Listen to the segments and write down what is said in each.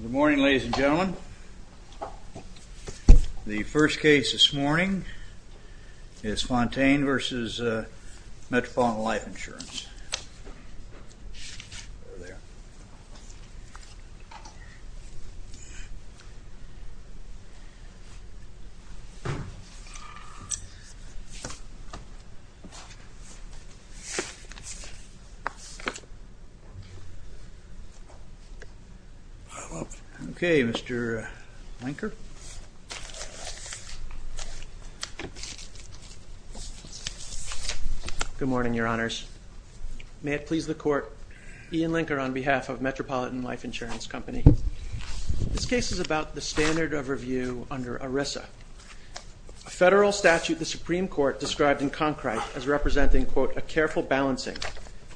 Good morning ladies and gentlemen. The first case this morning is Fontaine v. Metropolitan Life Insurance. Okay, Mr. Linker. Good morning, your honors. May it please the court, Ian Linker on behalf of Metropolitan Life Insurance Company. This case is about the standard of review under ERISA, a federal statute the Supreme Court described in Concrite as representing, quote, a careful balancing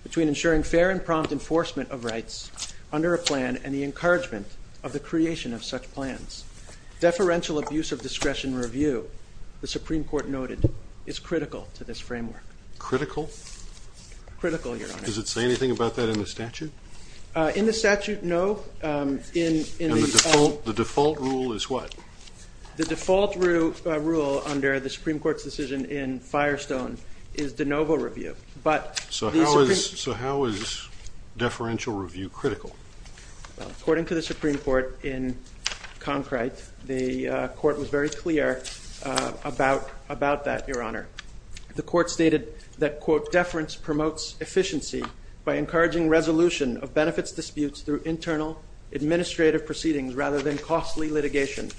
between ensuring fair and the creation of such plans. Deferential abuse of discretion review, the Supreme Court noted, is critical to this framework. Critical? Critical, your honors. Does it say anything about that in the statute? In the statute, no. The default rule is what? The default rule under the Supreme Court's decision in Firestone is de novo review, but... So how is deferential review critical? According to the Supreme Court in Concrite, the court was very clear about that, your honor. The court stated that, quote, deference promotes efficiency by encouraging resolution of benefits disputes through internal administrative proceedings rather than costly litigation.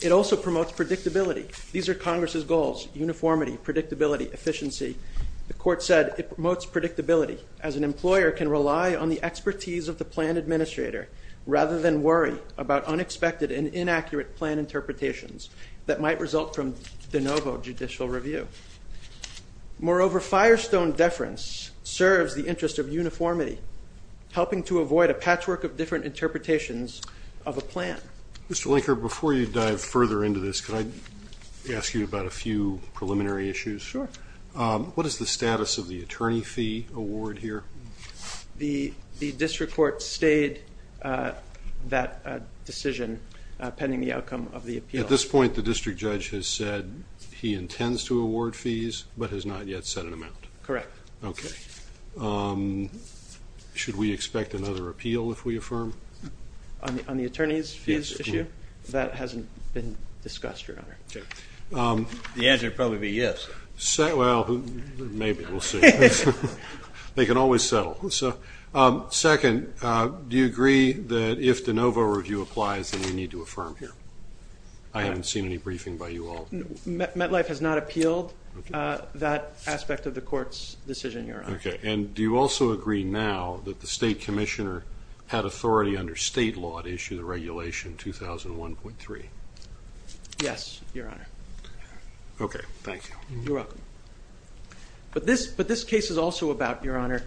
It also promotes predictability. These are Congress's goals, uniformity, predictability, efficiency. The court said it promotes predictability as an employer can rely on the expertise of the plan administrator rather than worry about unexpected and inaccurate plan interpretations that might result from de novo judicial review. Moreover, Firestone deference serves the interest of uniformity, helping to avoid a patchwork of different interpretations of a plan. Mr. Linkert, before you dive further into this, could I ask you about a few preliminary issues? Sure. What is the status of the attorney fee award here? The district court stayed that decision pending the outcome of the appeal. At this point, the district judge has said he intends to award fees but has not yet set an amount? Correct. Okay. Should we expect another appeal if we affirm? On the attorney's fees issue? That hasn't been discussed, your honor. The answer would probably be yes. Well, maybe. We'll see. They can always settle. Second, do you agree that if de novo review applies that we need to affirm here? I haven't seen any briefing by you all. MetLife has not appealed that aspect of the court's decision, your honor. Okay. And do you also agree now that the state commissioner had authority under state law to issue the regulation 2001.3? Yes, your honor. Okay. Thank you. You're welcome. But this case is also about, your honor,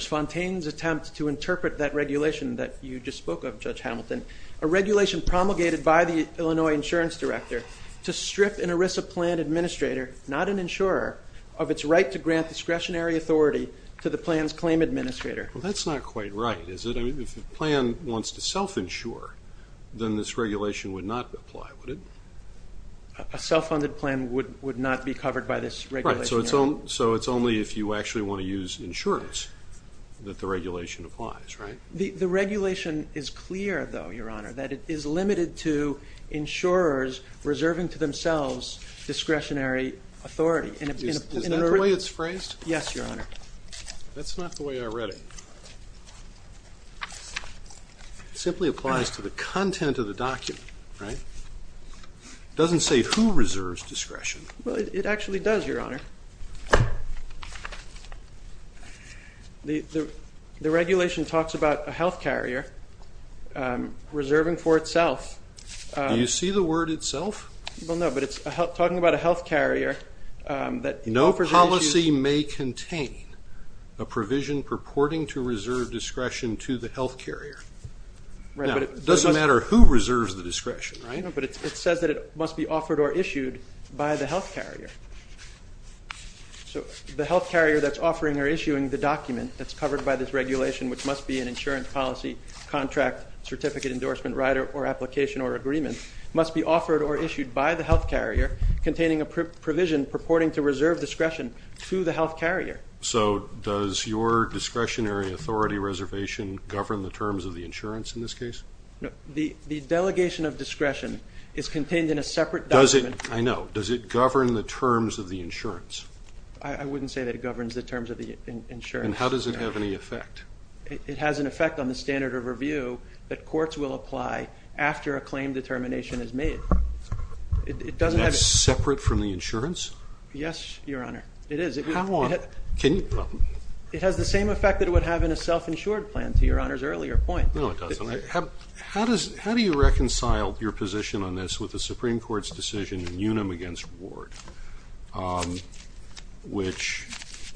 Fontaine's attempt to interpret that regulation that you just spoke of, Judge Hamilton, a regulation promulgated by the Illinois insurance director to strip an ERISA plan administrator, not an insurer, of its right to grant discretionary authority to the plan's claim administrator. Well, that's not quite right, is it? I mean, if the plan wants to self-insure, then this regulation would not apply, would it? A self-funded plan would not be covered by this regulation, your honor. Right. So it's only if you actually want to use insurance that the regulation applies, right? The regulation is clear, though, your honor, that it is limited to insurers reserving to themselves discretionary authority. Is that the way it's phrased? Yes, your honor. That's not the way I read it. It simply applies to the content of the document, right? It doesn't say who reserves discretion. Well, it actually does, your honor. The regulation talks about a health carrier reserving for itself. Do you see the word itself? Well, no, but it's talking about a health carrier that... No policy may contain a provision purporting to reserve discretion to the health carrier. Now, it doesn't matter who reserves the discretion, right? No, but it says that it must be offered or issued by the health carrier. So the health carrier that's offering or issuing the document that's covered by this regulation, which must be an insurance policy, contract, certificate endorsement, rider, or application or agreement, must be offered or issued by the health carrier containing a provision purporting to reserve discretion to the health carrier. So does your discretionary authority reservation govern the terms of the insurance in this case? The delegation of discretion is contained in a separate document. Does it, I know, does it govern the terms of the insurance? I wouldn't say that it governs the terms of the insurance. And how does it have any effect? It has an effect on the standard of review that courts will apply after a claim determination is made. It doesn't have... Is that separate from the It has the same effect that it would have in a self-insured plan, to your Honor's earlier point. No, it doesn't. How do you reconcile your position on this with the Supreme Court's decision in Unum v. Ward, which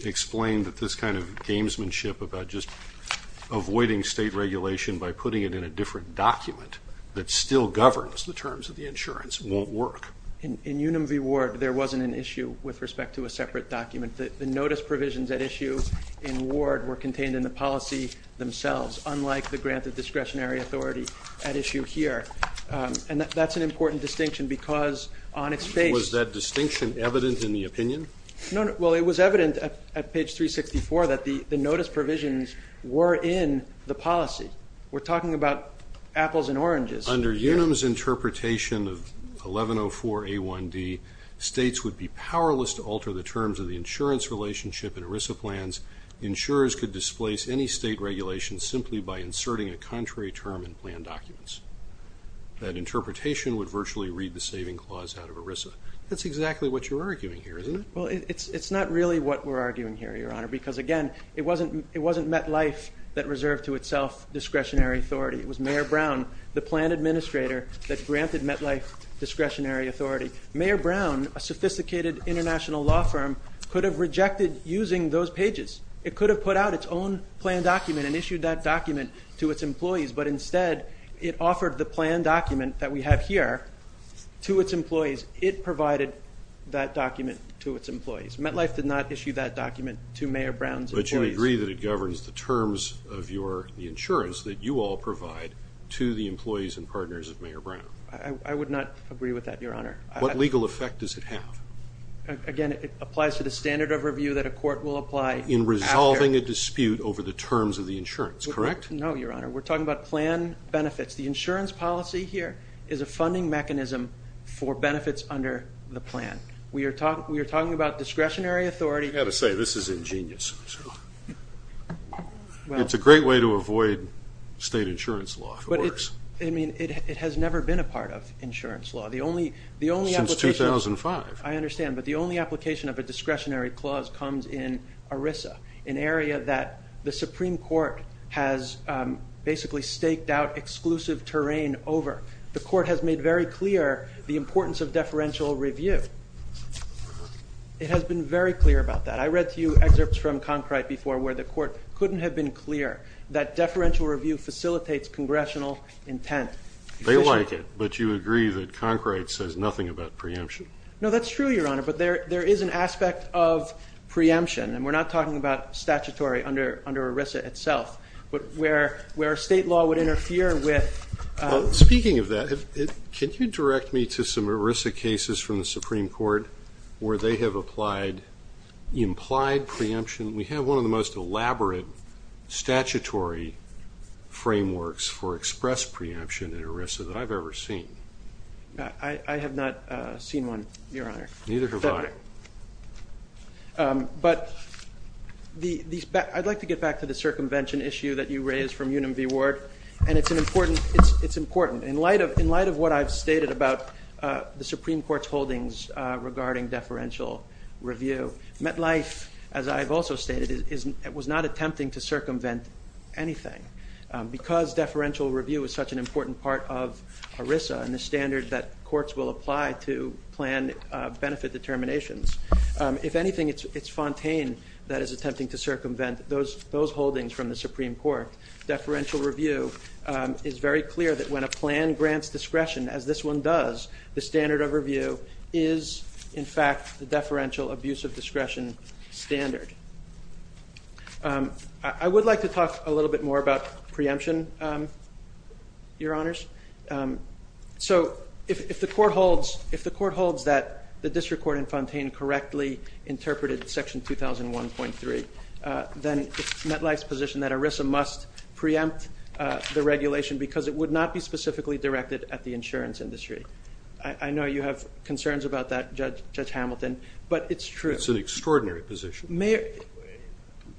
explained that this kind of gamesmanship about just avoiding state regulation by putting it in a different document that still governs the terms of the insurance won't work. In Unum v. Ward, there wasn't an issue with respect to a separate document. The notice provisions at issue in Ward were contained in the policy themselves, unlike the grant of discretionary authority at issue here. And that's an important distinction because on its face... Was that distinction evident in the opinion? No, no. Well, it was evident at page 364 that the notice provisions were in the policy. We're talking about apples and oranges. Under Unum's interpretation of 1104 A1D, states would be powerless to alter the terms of the insurance relationship in ERISA plans. Insurers could displace any state regulation simply by inserting a contrary term in plan documents. That interpretation would virtually read the saving clause out of ERISA. That's exactly what you're arguing here, isn't it? Well, it's not really what we're arguing here, your Honor, because again, it wasn't MetLife that reserved to itself discretionary authority. It was Mayor Brown, the plan rejected using those pages. It could have put out its own plan document and issued that document to its employees, but instead it offered the plan document that we have here to its employees. It provided that document to its employees. MetLife did not issue that document to Mayor Brown's employees. But you agree that it governs the terms of the insurance that you all provide to the employees and partners of Mayor Brown. I would not agree with that, your Honor. What legal effect does it have? Again, it applies to the standard of review that a court will apply. In resolving a dispute over the terms of the insurance, correct? No, your Honor. We're talking about plan benefits. The insurance policy here is a funding mechanism for benefits under the plan. We are talking about discretionary authority. I've got to say, this is ingenious. It's a great way to avoid state insurance law. I mean, it has never been a part of insurance law. Since 2005. I understand, but the only application of a discretionary clause comes in ERISA, an area that the Supreme Court has basically staked out exclusive terrain over. The court has made very clear the importance of deferential review. It has been very clear about that. I read a few excerpts from Concrite before where the court couldn't have been clear that deferential review facilitates congressional intent. They like it, but you agree that Concrite says nothing about preemption. No, that's true, your Honor, but there is an aspect of preemption, and we're not talking about statutory under ERISA itself, but where state law would interfere with... Speaking of that, can you direct me to some ERISA cases from the Supreme Court where they have applied implied preemption? We have one of the most elaborate statutory frameworks for express preemption in ERISA that I've ever seen. I have not seen one, your Honor. Neither have I. But I'd like to get back to the circumvention issue that you raised from Unum v. Ward, and it's an important... it's important in light of what I've stated about the Supreme Court's holdings regarding deferential review. MetLife, as I've also stated, was not attempting to circumvent anything. Because deferential review is such an important part of ERISA and the standard that courts will apply to plan benefit determinations, if anything, it's Fontaine that is attempting to circumvent those holdings from the Supreme Court. Deferential review is very clear that when a plan grants discretion, as this one does, the standard of review is, in fact, the deferential abuse of discretion standard. I would like to talk a little bit more about preemption, your Honors. So if the court holds that the district court in Fontaine correctly interpreted section 2001.3, then it's MetLife's position that ERISA must preempt the regulation because it would not be specifically directed at the insurance industry. I know you have Hamilton, but it's true. It's an extraordinary position.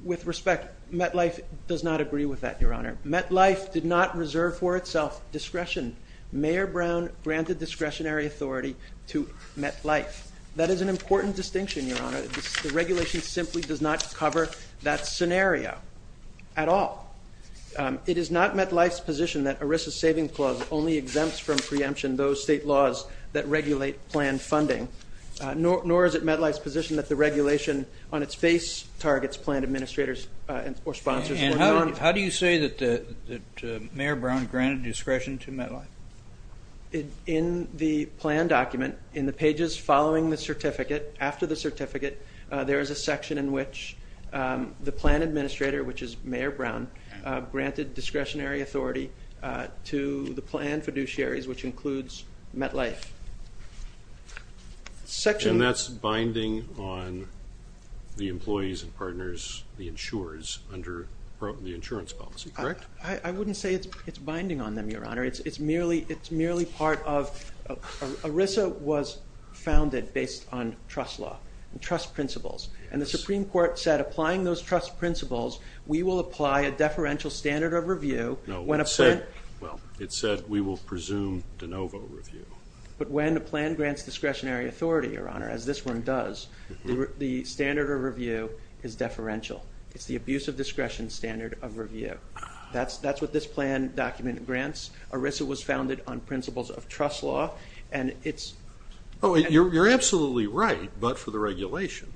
With respect, MetLife does not agree with that, your Honor. MetLife did not reserve for itself discretion. Mayor Brown granted discretionary authority to MetLife. That is an important distinction, your Honor. The regulation simply does not cover that scenario at all. It is not MetLife's position that ERISA's saving clause only exempts from it. Nor is it MetLife's position that the regulation on its face targets plan administrators or sponsors. And how do you say that Mayor Brown granted discretion to MetLife? In the plan document, in the pages following the certificate, after the certificate, there is a section in which the plan administrator, which is Mayor Brown, granted discretionary authority to the insurers under the insurance policy, correct? I wouldn't say it's binding on them, your Honor. It's merely part of, ERISA was founded based on trust law and trust principles, and the Supreme Court said applying those trust principles, we will apply a deferential standard of review. No, well, it said we will presume de novo review. But when the plan grants discretionary authority, your Honor, as this one does, the standard of review is deferential. It's the abuse of discretion standard of review. That's what this plan document grants. ERISA was founded on principles of trust law, and it's... Oh, you're absolutely right, but for the regulation.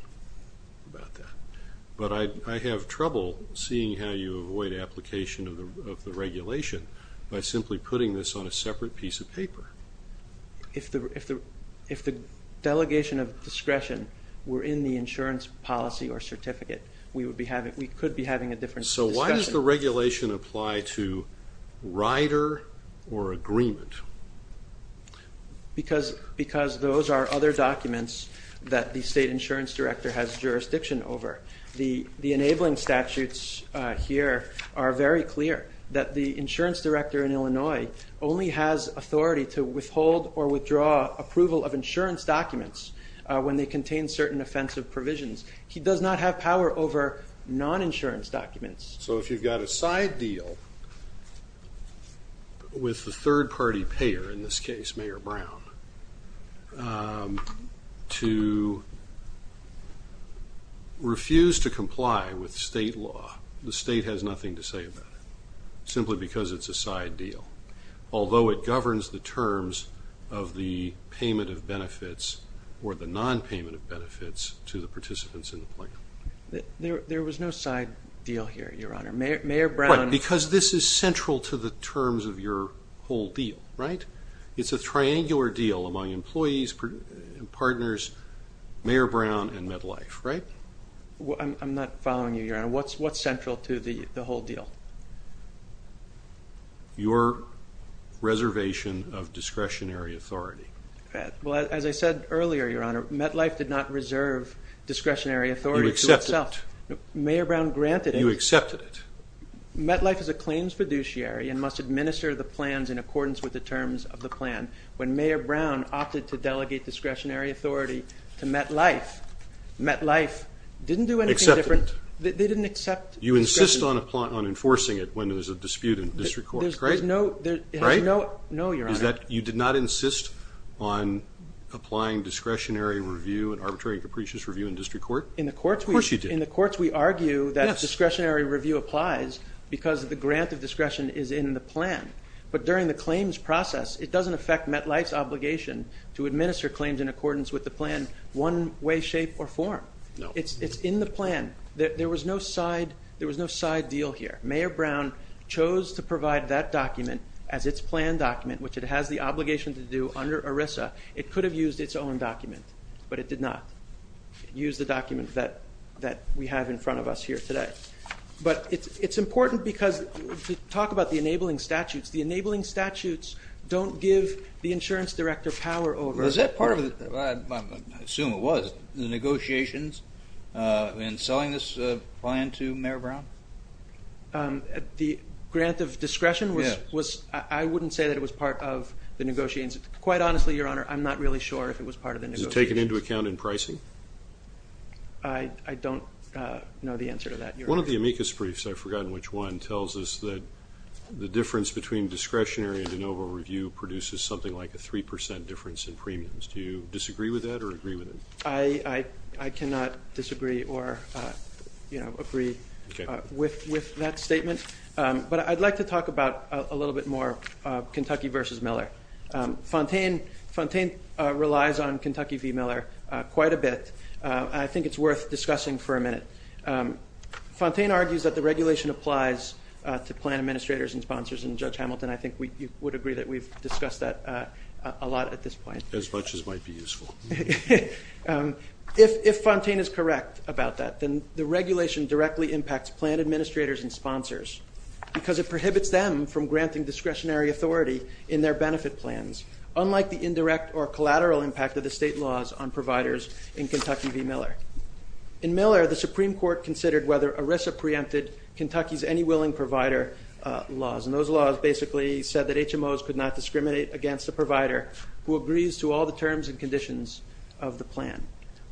But I have trouble seeing how you avoid application of the regulation by simply putting this on a separate piece of paper. If the delegation of discretion were in the insurance policy or certificate, we would be having, we could be having a different discussion. So why does the regulation apply to rider or agreement? Because those are other documents that the state insurance director has jurisdiction over. The enabling statutes here are very clear, that the insurance director in authority to withhold or withdraw approval of insurance documents when they contain certain offensive provisions. He does not have power over non-insurance documents. So if you've got a side deal with the third-party payer, in this case Mayor Brown, to refuse to comply with state law, the state has the terms of the payment of benefits or the non-payment of benefits to the participants in the plan. There was no side deal here, your honor. Mayor Brown... Right, because this is central to the terms of your whole deal, right? It's a triangular deal among employees, partners, Mayor Brown and MedLife, right? I'm not following you, your honor. What's central to the whole deal? Your reservation of discretionary authority. Well, as I said earlier, your honor, MedLife did not reserve discretionary authority to itself. You accepted it. Mayor Brown granted it. You accepted it. MedLife is a claims fiduciary and must administer the plans in accordance with the terms of the plan. When Mayor Brown opted to delegate discretionary authority to MedLife, MedLife didn't do anything different. They didn't accept... You insist on enforcing it when there's a dispute in district court, right? No, your honor. Is that you did not insist on applying discretionary review and arbitrary and capricious review in district court? Of course you did. In the courts we argue that discretionary review applies because the grant of discretion is in the plan, but during the claims process it doesn't affect MedLife's obligation to administer the plan. There was no side deal here. Mayor Brown chose to provide that document as its plan document, which it has the obligation to do under ERISA. It could have used its own document, but it did not use the document that we have in front of us here today. But it's important because, to talk about the enabling statutes, the enabling statutes don't give the insurance director power over... Is that part of, I assume it was, the negotiations in selling this plan to Mayor Brown? The grant of discretion was, I wouldn't say that it was part of the negotiations. Quite honestly, your honor, I'm not really sure if it was part of the negotiations. Is it taken into account in pricing? I don't know the answer to that. One of the amicus briefs, I've forgotten which one, tells us that the difference between discretionary and de novo review produces something like a 3% difference in premiums. Do you disagree with that or agree with it? I cannot disagree or, you know, agree with that statement, but I'd like to talk about a little bit more Kentucky v. Miller. Fontaine relies on Kentucky v. Miller quite a bit. I think it's worth discussing for a minute. Fontaine argues that the regulation applies to plan administrators and sponsors, and Judge Hamilton, I think we would agree that we've discussed that a lot at this point. As much as might be useful. If Fontaine is correct about that, then the regulation directly impacts plan administrators and sponsors because it prohibits them from granting discretionary authority in their benefit plans, unlike the indirect or collateral impact of the state laws on providers in Kentucky v. Miller. In Miller, the Supreme Court considered whether ERISA preempted Kentucky's Any Willing Provider laws, and those laws basically said that HMOs could not discriminate against the provider who agrees to all the terms and conditions of the plan.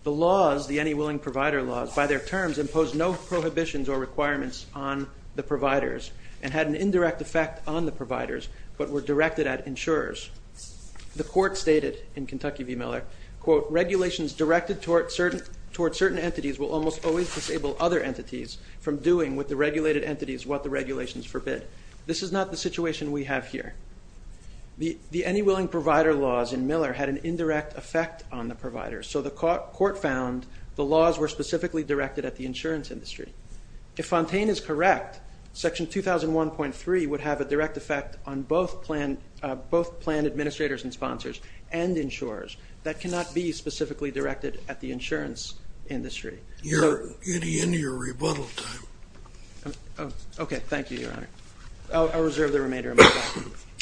The laws, the Any Willing Provider laws, by their terms impose no prohibitions or requirements on the providers and had an indirect effect on the providers, but were directed at insurers. The court stated in Kentucky v. Miller, quote, regulations directed toward certain entities will almost always disable other entities from doing with the regulated entities what the regulations forbid. This is not the situation we have here. The Any Willing Provider laws in Miller had an indirect effect on the providers, so the court found the laws were specifically directed at the insurance industry. If Fontaine is correct, Section 2001.3 would have a direct effect on both plan administrators and sponsors and insurers. That cannot be specifically directed at the insurance industry. You're getting into your remainder of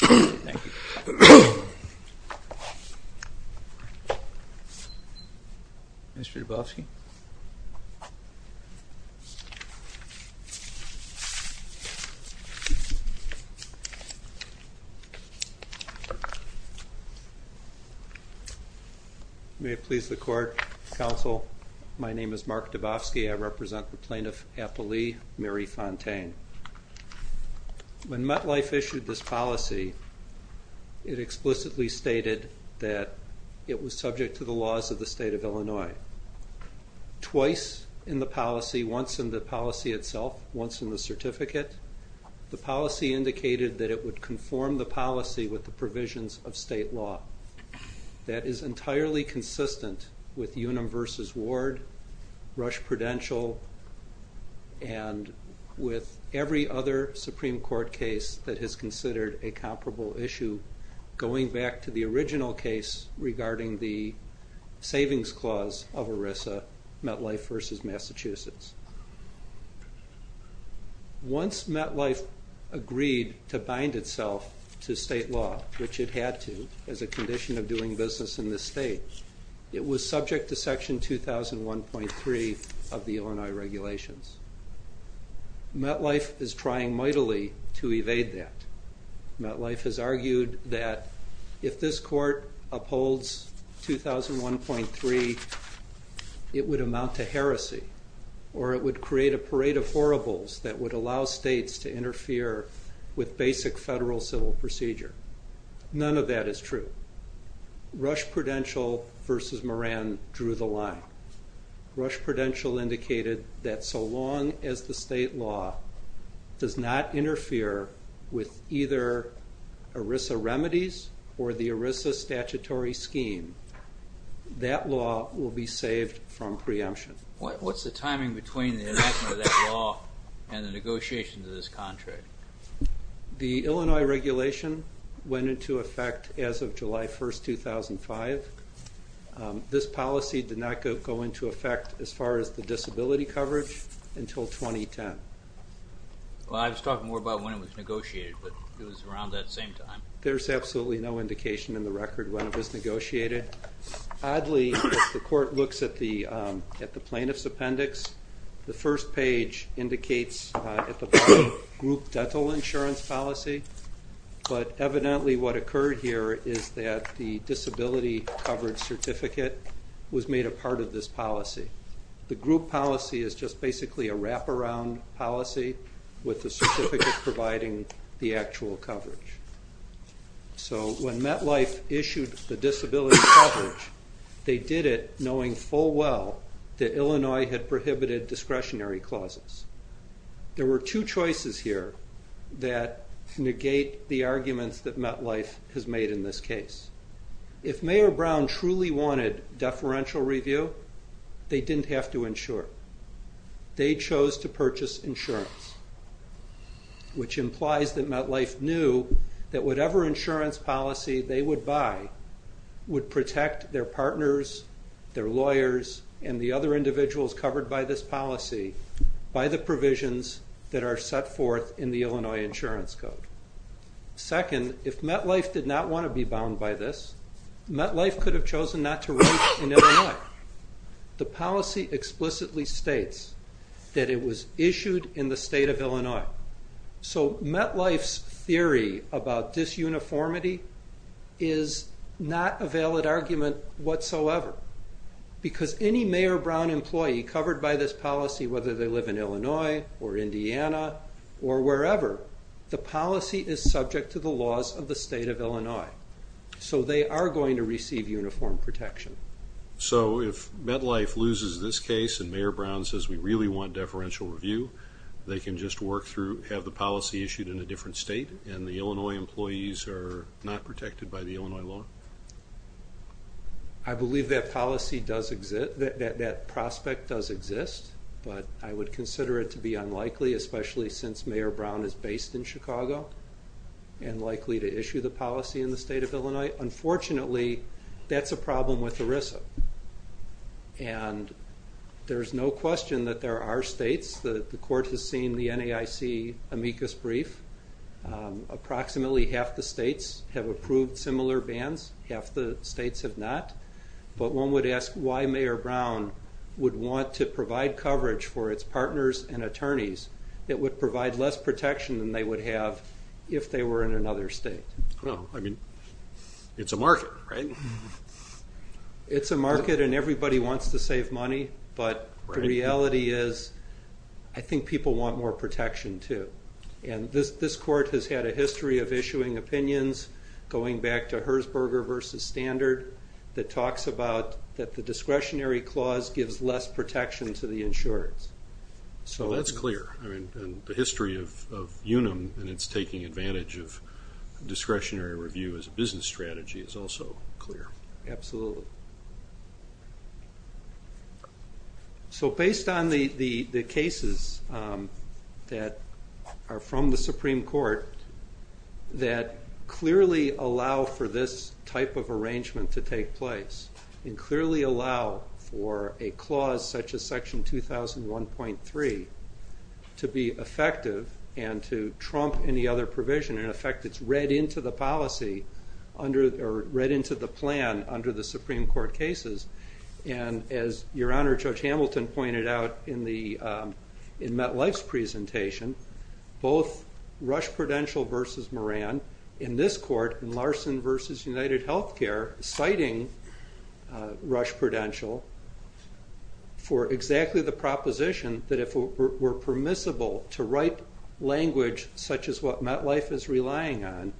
my time. Mr. Dubofsky. May it please the court, counsel, my name is Mark Dubofsky. I represent the plaintiff Mary Fontaine. When MetLife issued this policy, it explicitly stated that it was subject to the laws of the state of Illinois. Twice in the policy, once in the policy itself, once in the certificate, the policy indicated that it would conform the policy with the provisions of state law. That is entirely consistent with Unum v. Ward, Rush Prudential, and with every other Supreme Court case that has considered a comparable issue, going back to the original case regarding the savings clause of ERISA, MetLife v. Massachusetts. Once MetLife agreed to bind itself to state law, which it had to as a condition of doing business in this state, it was subject to section 2001.3 of the Illinois regulations. MetLife is trying mightily to evade that. MetLife has argued that if this court upholds 2001.3, it would amount to heresy, or it would create a parade of horribles that would allow states to interfere with basic federal civil procedure. None of that is true. Rush Prudential v. Moran drew the line. Rush Prudential indicated that so long as the state law does not interfere with either ERISA remedies or the ERISA statutory scheme, that law will be saved from preemption. What's the timing between the enactment of that law and the as of July 1st, 2005? This policy did not go into effect as far as the disability coverage until 2010. Well, I was talking more about when it was negotiated, but it was around that same time. There's absolutely no indication in the record when it was negotiated. Oddly, the court looks at the plaintiff's appendix. The first page indicates at the bottom, group dental insurance policy, but evidently what occurred here is that the disability coverage certificate was made a part of this policy. The group policy is just basically a wraparound policy with the certificate providing the actual coverage. So when MetLife issued the disability coverage, they did it knowing full well that Illinois had prohibited discretionary clauses. There were two choices here that negate the arguments that MetLife has made in this case. If Mayor Brown truly wanted deferential review, they didn't have to insure. They chose to purchase insurance, which implies that MetLife knew that whatever insurance policy they would buy would protect their partners, their lawyers, and the other individuals covered by this policy by the provisions that are set forth in the Illinois Insurance Code. Second, if MetLife did not want to be bound by this, MetLife could have chosen not to write in Illinois. The policy explicitly states that it was issued in the state of Illinois. So MetLife's theory about disuniformity is not a valid argument whatsoever, because any Mayor Brown employee covered by this policy, whether they live in Illinois or Indiana or wherever, the policy is subject to the laws of the state of Illinois. So they are going to receive uniform protection. So if MetLife loses this case and Mayor Brown says we really want deferential review, they can just work through have the policy issued in a different state and the Illinois employees are not protected by the Illinois law? I believe that policy does exist, that that prospect does exist, but I would consider it to be unlikely especially since Mayor Brown is based in Chicago and likely to issue the policy in the state of Illinois. Unfortunately, that's a problem with ERISA and there's no question that there are states that the court has seen the NAIC amicus brief. Approximately half the states have approved similar bans, half the states have not, but one would ask why Mayor Brown would want to provide coverage for its partners and attorneys that would provide less protection than they would have if they were in another state. Well, I mean, it's a market, right? It's a market and everybody wants to save money, but the reality is I think people want more protection too. And this court has had a history of issuing opinions, going back to Herzberger versus Standard, that talks about that the discretionary clause gives less protection to the insurance. So that's clear, I mean, the history of UNUM and it's taking advantage of discretionary review as a business strategy is also clear. Absolutely. So based on the cases that are from the Supreme Court that clearly allow for this type of arrangement to take place and clearly allow for a clause such as section 2001.3 to be effective and to trump any other provision. In effect, it's read into the policy under or read into the plan under the Supreme Court cases and as your both Rush Prudential versus Moran, in this court in Larson versus United Healthcare, citing Rush Prudential for exactly the proposition that if we're permissible to write language such as what MetLife is relying on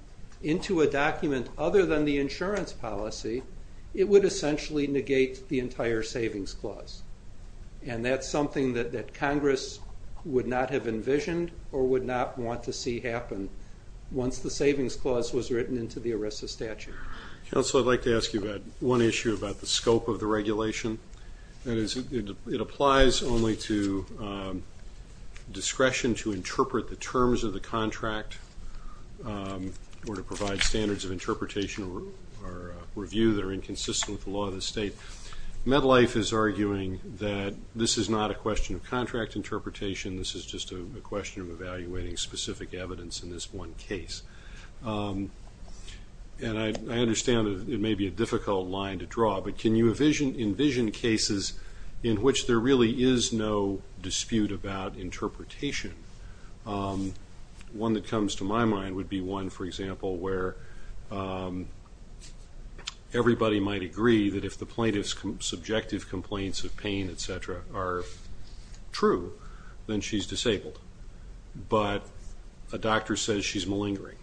into a document other than the insurance policy, it would essentially negate the entire savings clause. And that's something that Congress would not have envisioned or would not want to see happen once the savings clause was written into the ERISA statute. Counselor, I'd like to ask you about one issue about the scope of the regulation. That is, it applies only to discretion to interpret the terms of the contract or to provide standards of interpretation or review that are inconsistent with the law of the state. MetLife is arguing that this is not a question of evaluating specific evidence in this one case. And I understand it may be a difficult line to draw, but can you envision cases in which there really is no dispute about interpretation? One that comes to my mind would be one, for example, where everybody might agree that if the plaintiff's subjective complaints of pain, etc., are true, then she's disabled. But a doctor says she's malingering.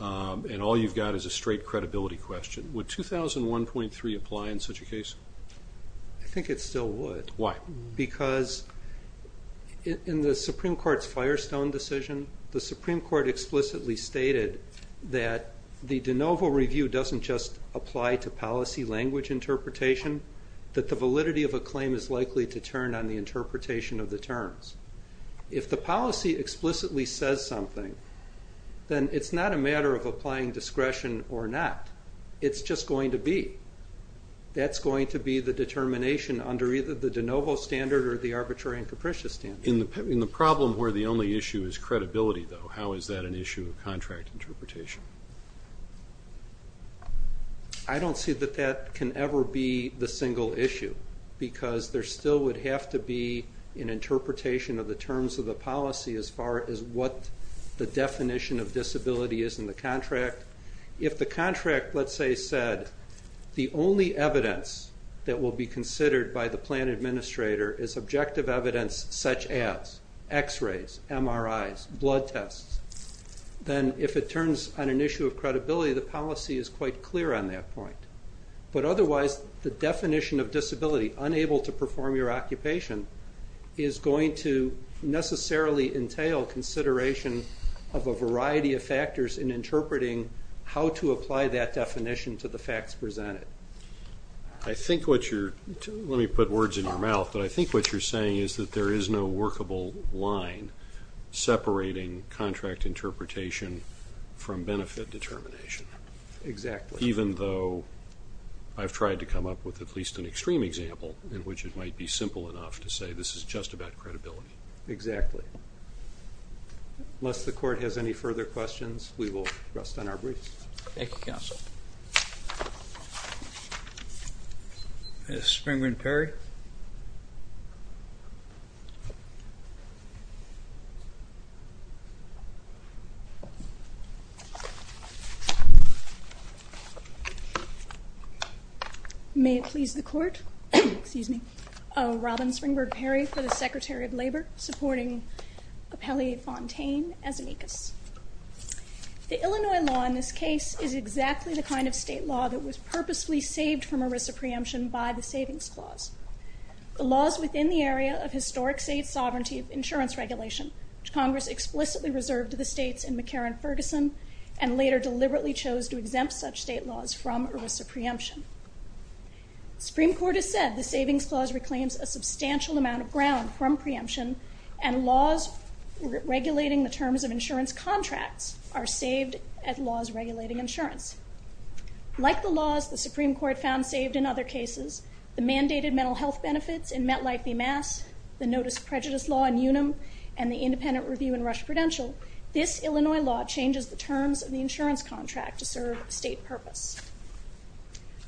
And all you've got is a straight credibility question. Would 2001.3 apply in such a case? I think it still would. Why? Because in the Supreme Court's Firestone decision, the Supreme Court explicitly stated that the validity of a claim is likely to turn on the interpretation of the terms. If the policy explicitly says something, then it's not a matter of applying discretion or not. It's just going to be. That's going to be the determination under either the de novo standard or the arbitrary and capricious standard. In the problem where the only issue is credibility, though, how is that an issue of contract interpretation? I don't see that that can ever be the single issue because there still would have to be an interpretation of the terms of the policy as far as what the definition of disability is in the contract. If the contract, let's say, said the only evidence that will be considered by the administrator is objective evidence such as x-rays, MRIs, blood tests, then if it turns on an issue of credibility, the policy is quite clear on that point. But otherwise, the definition of disability, unable to perform your occupation, is going to necessarily entail consideration of a variety of factors in interpreting how to apply that definition to the facts presented. I think what you're, let me put words in your mouth, but I think what you're saying is that there is no workable line separating contract interpretation from benefit determination. Exactly. Even though I've tried to come up with at least an extreme example in which it might be simple enough to say this is just about credibility. Exactly. Unless the court has any further questions, we Ms. Springberg-Perry. May it please the court, excuse me, Robin Springberg-Perry for the Secretary of Labor, supporting Appellee Fontaine as amicus. The Illinois law in this case is exactly the kind of state law that was purposely saved from a risk of preemption by the Savings Clause. The laws within the area of historic state sovereignty of insurance regulation, which Congress explicitly reserved to the states in McCarran-Ferguson, and later deliberately chose to exempt such state laws from a risk of preemption. Supreme Court has said the Savings Clause reclaims a substantial amount of ground from preemption, and laws regulating the terms of insurance contracts are saved at laws regulating insurance. Like the cases, the mandated mental health benefits in Metlife v. Mass, the Notice of Prejudice Law in Unum, and the Independent Review in Rush Prudential, this Illinois law changes the terms of the insurance contract to serve a state purpose.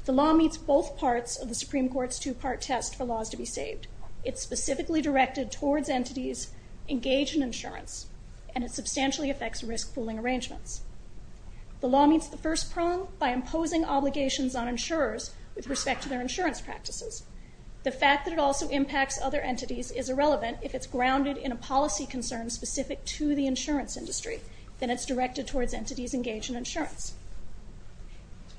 The law meets both parts of the Supreme Court's two-part test for laws to be saved. It's specifically directed towards entities engaged in insurance, and it substantially affects risk pooling arrangements. The law meets the first prong by imposing obligations on insurers with respect to their insurance practices. The fact that it also impacts other entities is irrelevant if it's grounded in a policy concern specific to the insurance industry, then it's directed towards entities engaged in insurance.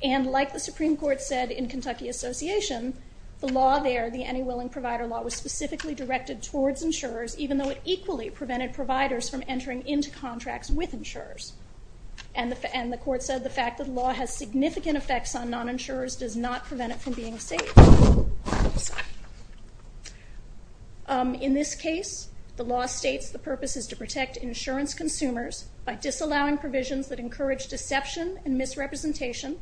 And like the Supreme Court said in Kentucky Association, the law there, the Any Willing Provider Law, was specifically directed towards insurers even though it equally prevented providers from entering into contracts with insurers. And the court said the fact that law has significant effects on non-insurers does not prevent it from being safe. In this case, the law states the purpose is to protect insurance consumers by disallowing provisions that encourage deception and misrepresentation.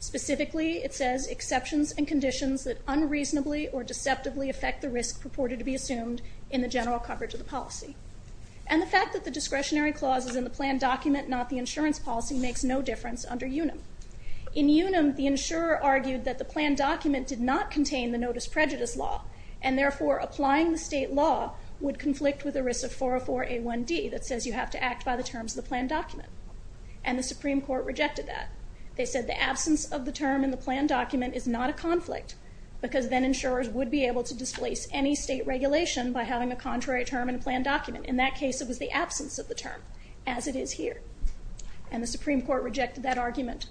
Specifically, it says exceptions and conditions that unreasonably or deceptively affect the risk purported to be assumed in the general coverage of the policy. And the fact that the discretionary clauses in the plan document, not the insurance policy, makes no difference under UNAM. In UNAM, the insurer argued that the plan document did not contain the notice prejudice law and therefore applying the state law would conflict with ERISA 404 A1D that says you have to act by the terms of the plan document. And the Supreme Court rejected that. They said the absence of the term in the plan document is not a conflict because then insurers would be able to displace any state regulation by having a contrary term in a plan document. In that case, it was the absence of the term as it is here. And the Supreme Court rejected that argument.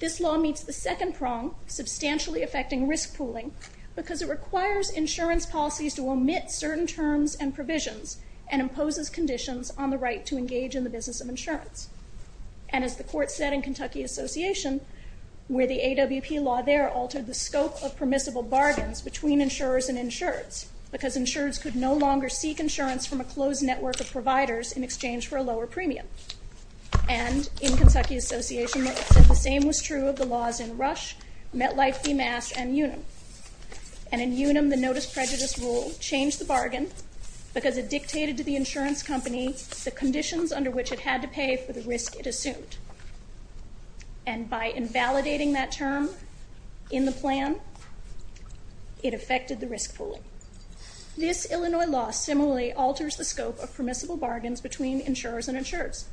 This law meets the second prong, substantially affecting risk pooling, because it requires insurance policies to omit certain terms and provisions and imposes conditions on the right to engage in the business of insurance. And as the court said in Kentucky Association, where the AWP law there altered the scope of permissible bargains between insurers and insureds because insureds could no longer seek insurance from a closed network of providers in exchange for a lower premium. And in Kentucky Association, the same was true of the laws in Rush, MetLife, DMASC, and UNAM. And in UNAM, the notice prejudice rule changed the bargain because it dictated to the insurance company the conditions under which it had to pay for the risk it assumed. And by invalidating that term in the plan, it similarly alters the scope of permissible bargains between insurers and insureds.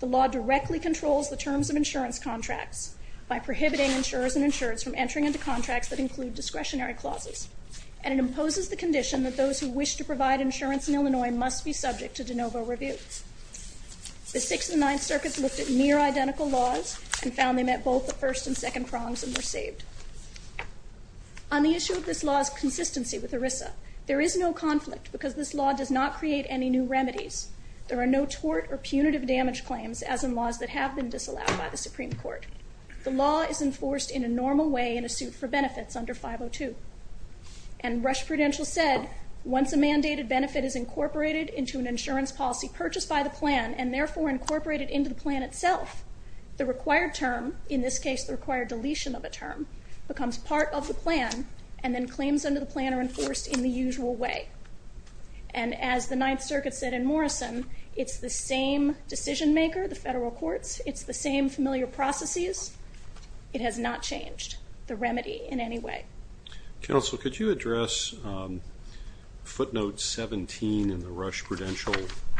The law directly controls the terms of insurance contracts by prohibiting insurers and insureds from entering into contracts that include discretionary clauses. And it imposes the condition that those who wish to provide insurance in Illinois must be subject to de novo review. The Sixth and Ninth Circuits looked at near identical laws and found they met both the first and second prongs and were saved. On the issue of this law's consistency with ERISA, there is no conflict because this law does not create any new remedies. There are no tort or punitive damage claims, as in laws that have been disallowed by the Supreme Court. The law is enforced in a normal way in a suit for benefits under 502. And Rush Prudential said, once a mandated benefit is incorporated into an insurance policy purchased by the plan and therefore incorporated into the plan itself, the required term, in this case the required deletion of a term, becomes part of the plan and then claims under the plan are enforced in the usual way. And as the Ninth Circuit said in Morrison, it's the same decision-maker, the federal courts, it's the same familiar processes. It has not changed the remedy in any way. Counsel, could you address footnote 17 in the Rush Prudential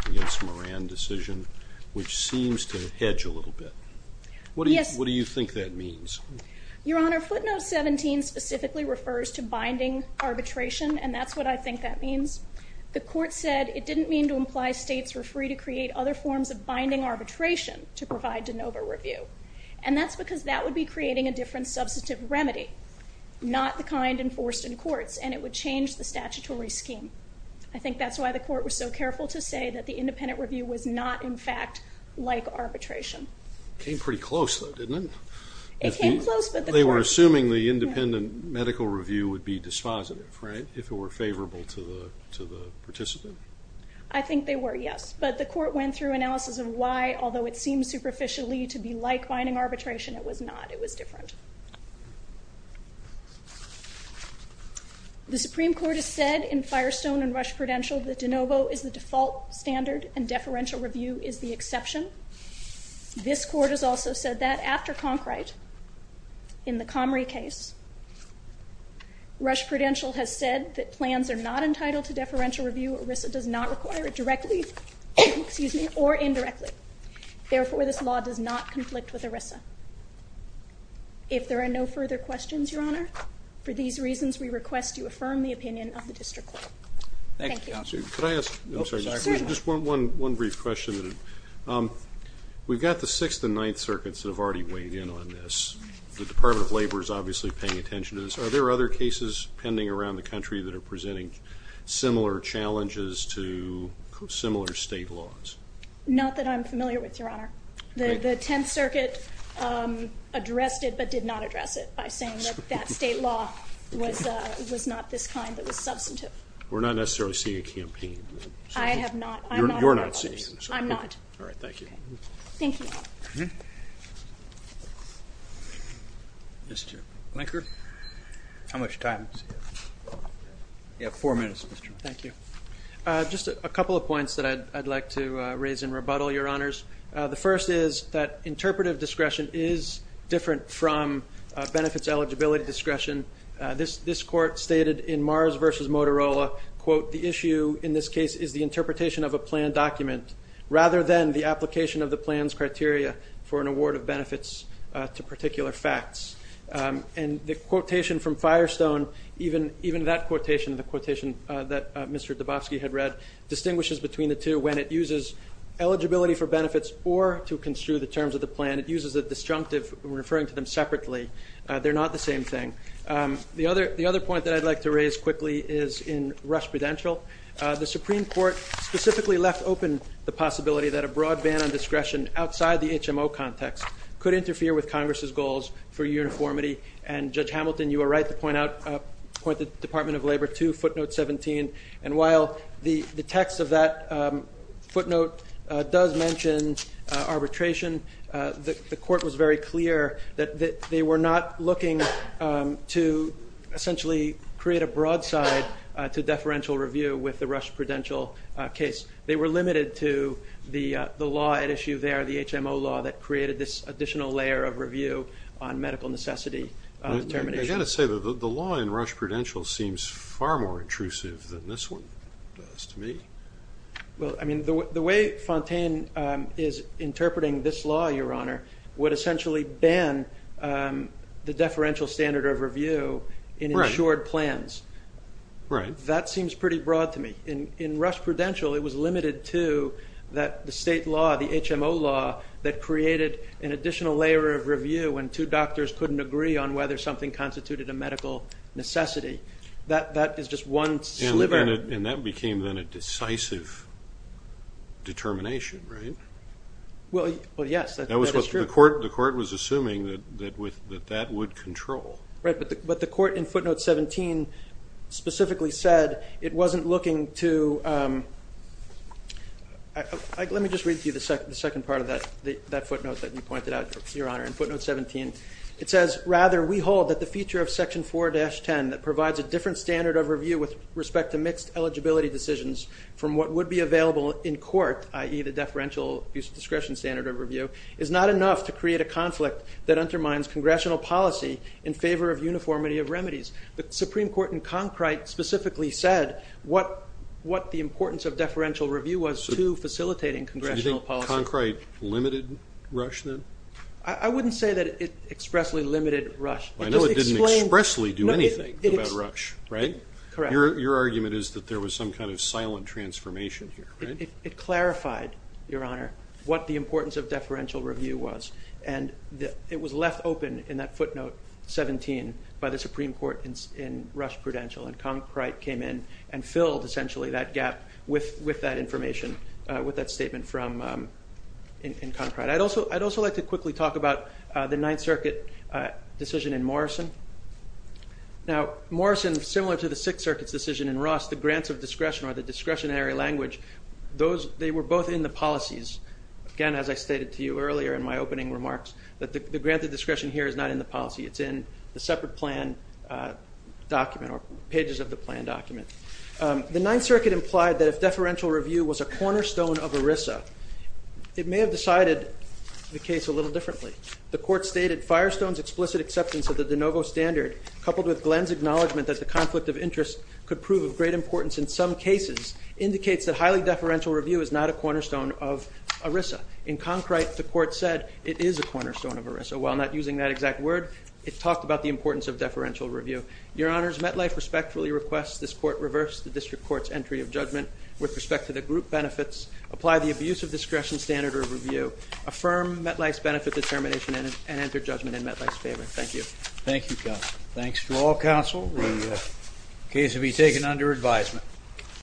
against Moran decision, which seems to hedge a little bit. What do you think that means? Your Honor, footnote 17 specifically refers to binding arbitration, and that's what I think that means. The court said it didn't mean to imply states were free to create other forms of binding arbitration to provide de novo review. And that's because that would be creating a different substantive remedy, not the kind enforced in courts, and it would change the statutory scheme. I think that's why the court was so careful to say that the independent review was not, in fact, like arbitration. Came pretty close though, didn't it? It came close, but the court... They were assuming the independent medical review would be dispositive, right, if it were favorable to the participant? I think they were, yes, but the court went through analysis of why, although it seems superficially to be like binding arbitration, it was not. It was different. The Supreme Court has said in Firestone and Rush Prudential that de novo is the default standard and deferential review is the exception. This court has also said that after Conkright in the Comrie case, Rush Prudential has said that plans are not entitled to deferential review. ERISA does not require it directly, excuse me, or indirectly. Therefore, this law does not conflict with ERISA. If there are no further questions, Your Honor, for these reasons we request you affirm the Just one brief question. We've got the Sixth and Ninth Circuits that have already weighed in on this. The Department of Labor is obviously paying attention to this. Are there other cases pending around the country that are presenting similar challenges to similar state laws? Not that I'm familiar with, Your Honor. The Tenth Circuit addressed it but did not address it by saying that that state law was not this kind, that was substantive. We're not necessarily seeing a campaign. I have not. You're not seeing it. I'm not. All right, thank you. Thank you. Mr. Blinker, how much time? You have four minutes, Mr. Blinker. Thank you. Just a couple of points that I'd like to raise in rebuttal, Your Honors. The first is that interpretive discretion is different from benefits eligibility discretion. This issue, in this case, is the interpretation of a plan document rather than the application of the plan's criteria for an award of benefits to particular facts. And the quotation from Firestone, even that quotation, the quotation that Mr. Dubofsky had read, distinguishes between the two when it uses eligibility for benefits or to construe the terms of the plan. It uses a disjunctive referring to them separately. They're not the same thing. The other point that I'd like to raise quickly is in Rush Prudential. The Supreme Court specifically left open the possibility that a broad ban on discretion outside the HMO context could interfere with Congress's goals for uniformity. And, Judge Hamilton, you are right to point out, point the Department of Labor to footnote 17. And while the text of that footnote does mention arbitration, the create a broadside to deferential review with the Rush Prudential case. They were limited to the law at issue there, the HMO law, that created this additional layer of review on medical necessity determination. I gotta say, the law in Rush Prudential seems far more intrusive than this one does to me. Well, I mean, the way Fontaine is interpreting this law, Your Honor, would essentially ban the plans. Right. That seems pretty broad to me. In Rush Prudential, it was limited to that the state law, the HMO law, that created an additional layer of review when two doctors couldn't agree on whether something constituted a medical necessity. That is just one sliver. And that became then a decisive determination, right? Well, yes, that was true. The court was assuming that that would control. Right, but the court in footnote 17 specifically said it wasn't looking to, let me just read to you the second part of that footnote that you pointed out, Your Honor, in footnote 17. It says, rather, we hold that the feature of section 4-10 that provides a different standard of review with respect to mixed eligibility decisions from what would be available in court, i.e. the deferential use of discretion standard of review, is not enough to create a conflict that undermines congressional policy in favor of uniformity of remedies. The Supreme Court in Concrite specifically said what the importance of deferential review was to facilitating congressional policy. Do you think Concrite limited Rush then? I wouldn't say that it expressly limited Rush. I know it didn't expressly do anything about Rush, right? Correct. Your argument is that there was some kind of silent transformation here. It clarified, Your Honor, what the importance of deferential review was and it was left open in that footnote 17 by the Supreme Court in Rush Prudential and Concrite came in and filled essentially that gap with that information, with that statement from Concrite. I'd also like to quickly talk about the Ninth Circuit decision in Morrison. Now Morrison, similar to the Sixth Circuit's decision in Ross, the grants of discretion or the those, they were both in the policies. Again, as I stated to you earlier in my opening remarks, that the grant of discretion here is not in the policy, it's in the separate plan document or pages of the plan document. The Ninth Circuit implied that if deferential review was a cornerstone of ERISA, it may have decided the case a little differently. The court stated Firestone's explicit acceptance of the de novo standard coupled with Glenn's acknowledgement that the conflict of interest could prove of great importance in some cases indicates that highly deferential review is not a cornerstone of ERISA. In Concrite, the court said it is a cornerstone of ERISA. While not using that exact word, it talked about the importance of deferential review. Your Honors, MetLife respectfully requests this court reverse the District Court's entry of judgment with respect to the group benefits, apply the abuse of discretion standard or review, affirm MetLife's benefit determination and enter judgment in MetLife's favor. Thank you. Thank you, counsel. Thanks to all counsel. The case will be taken under advisement.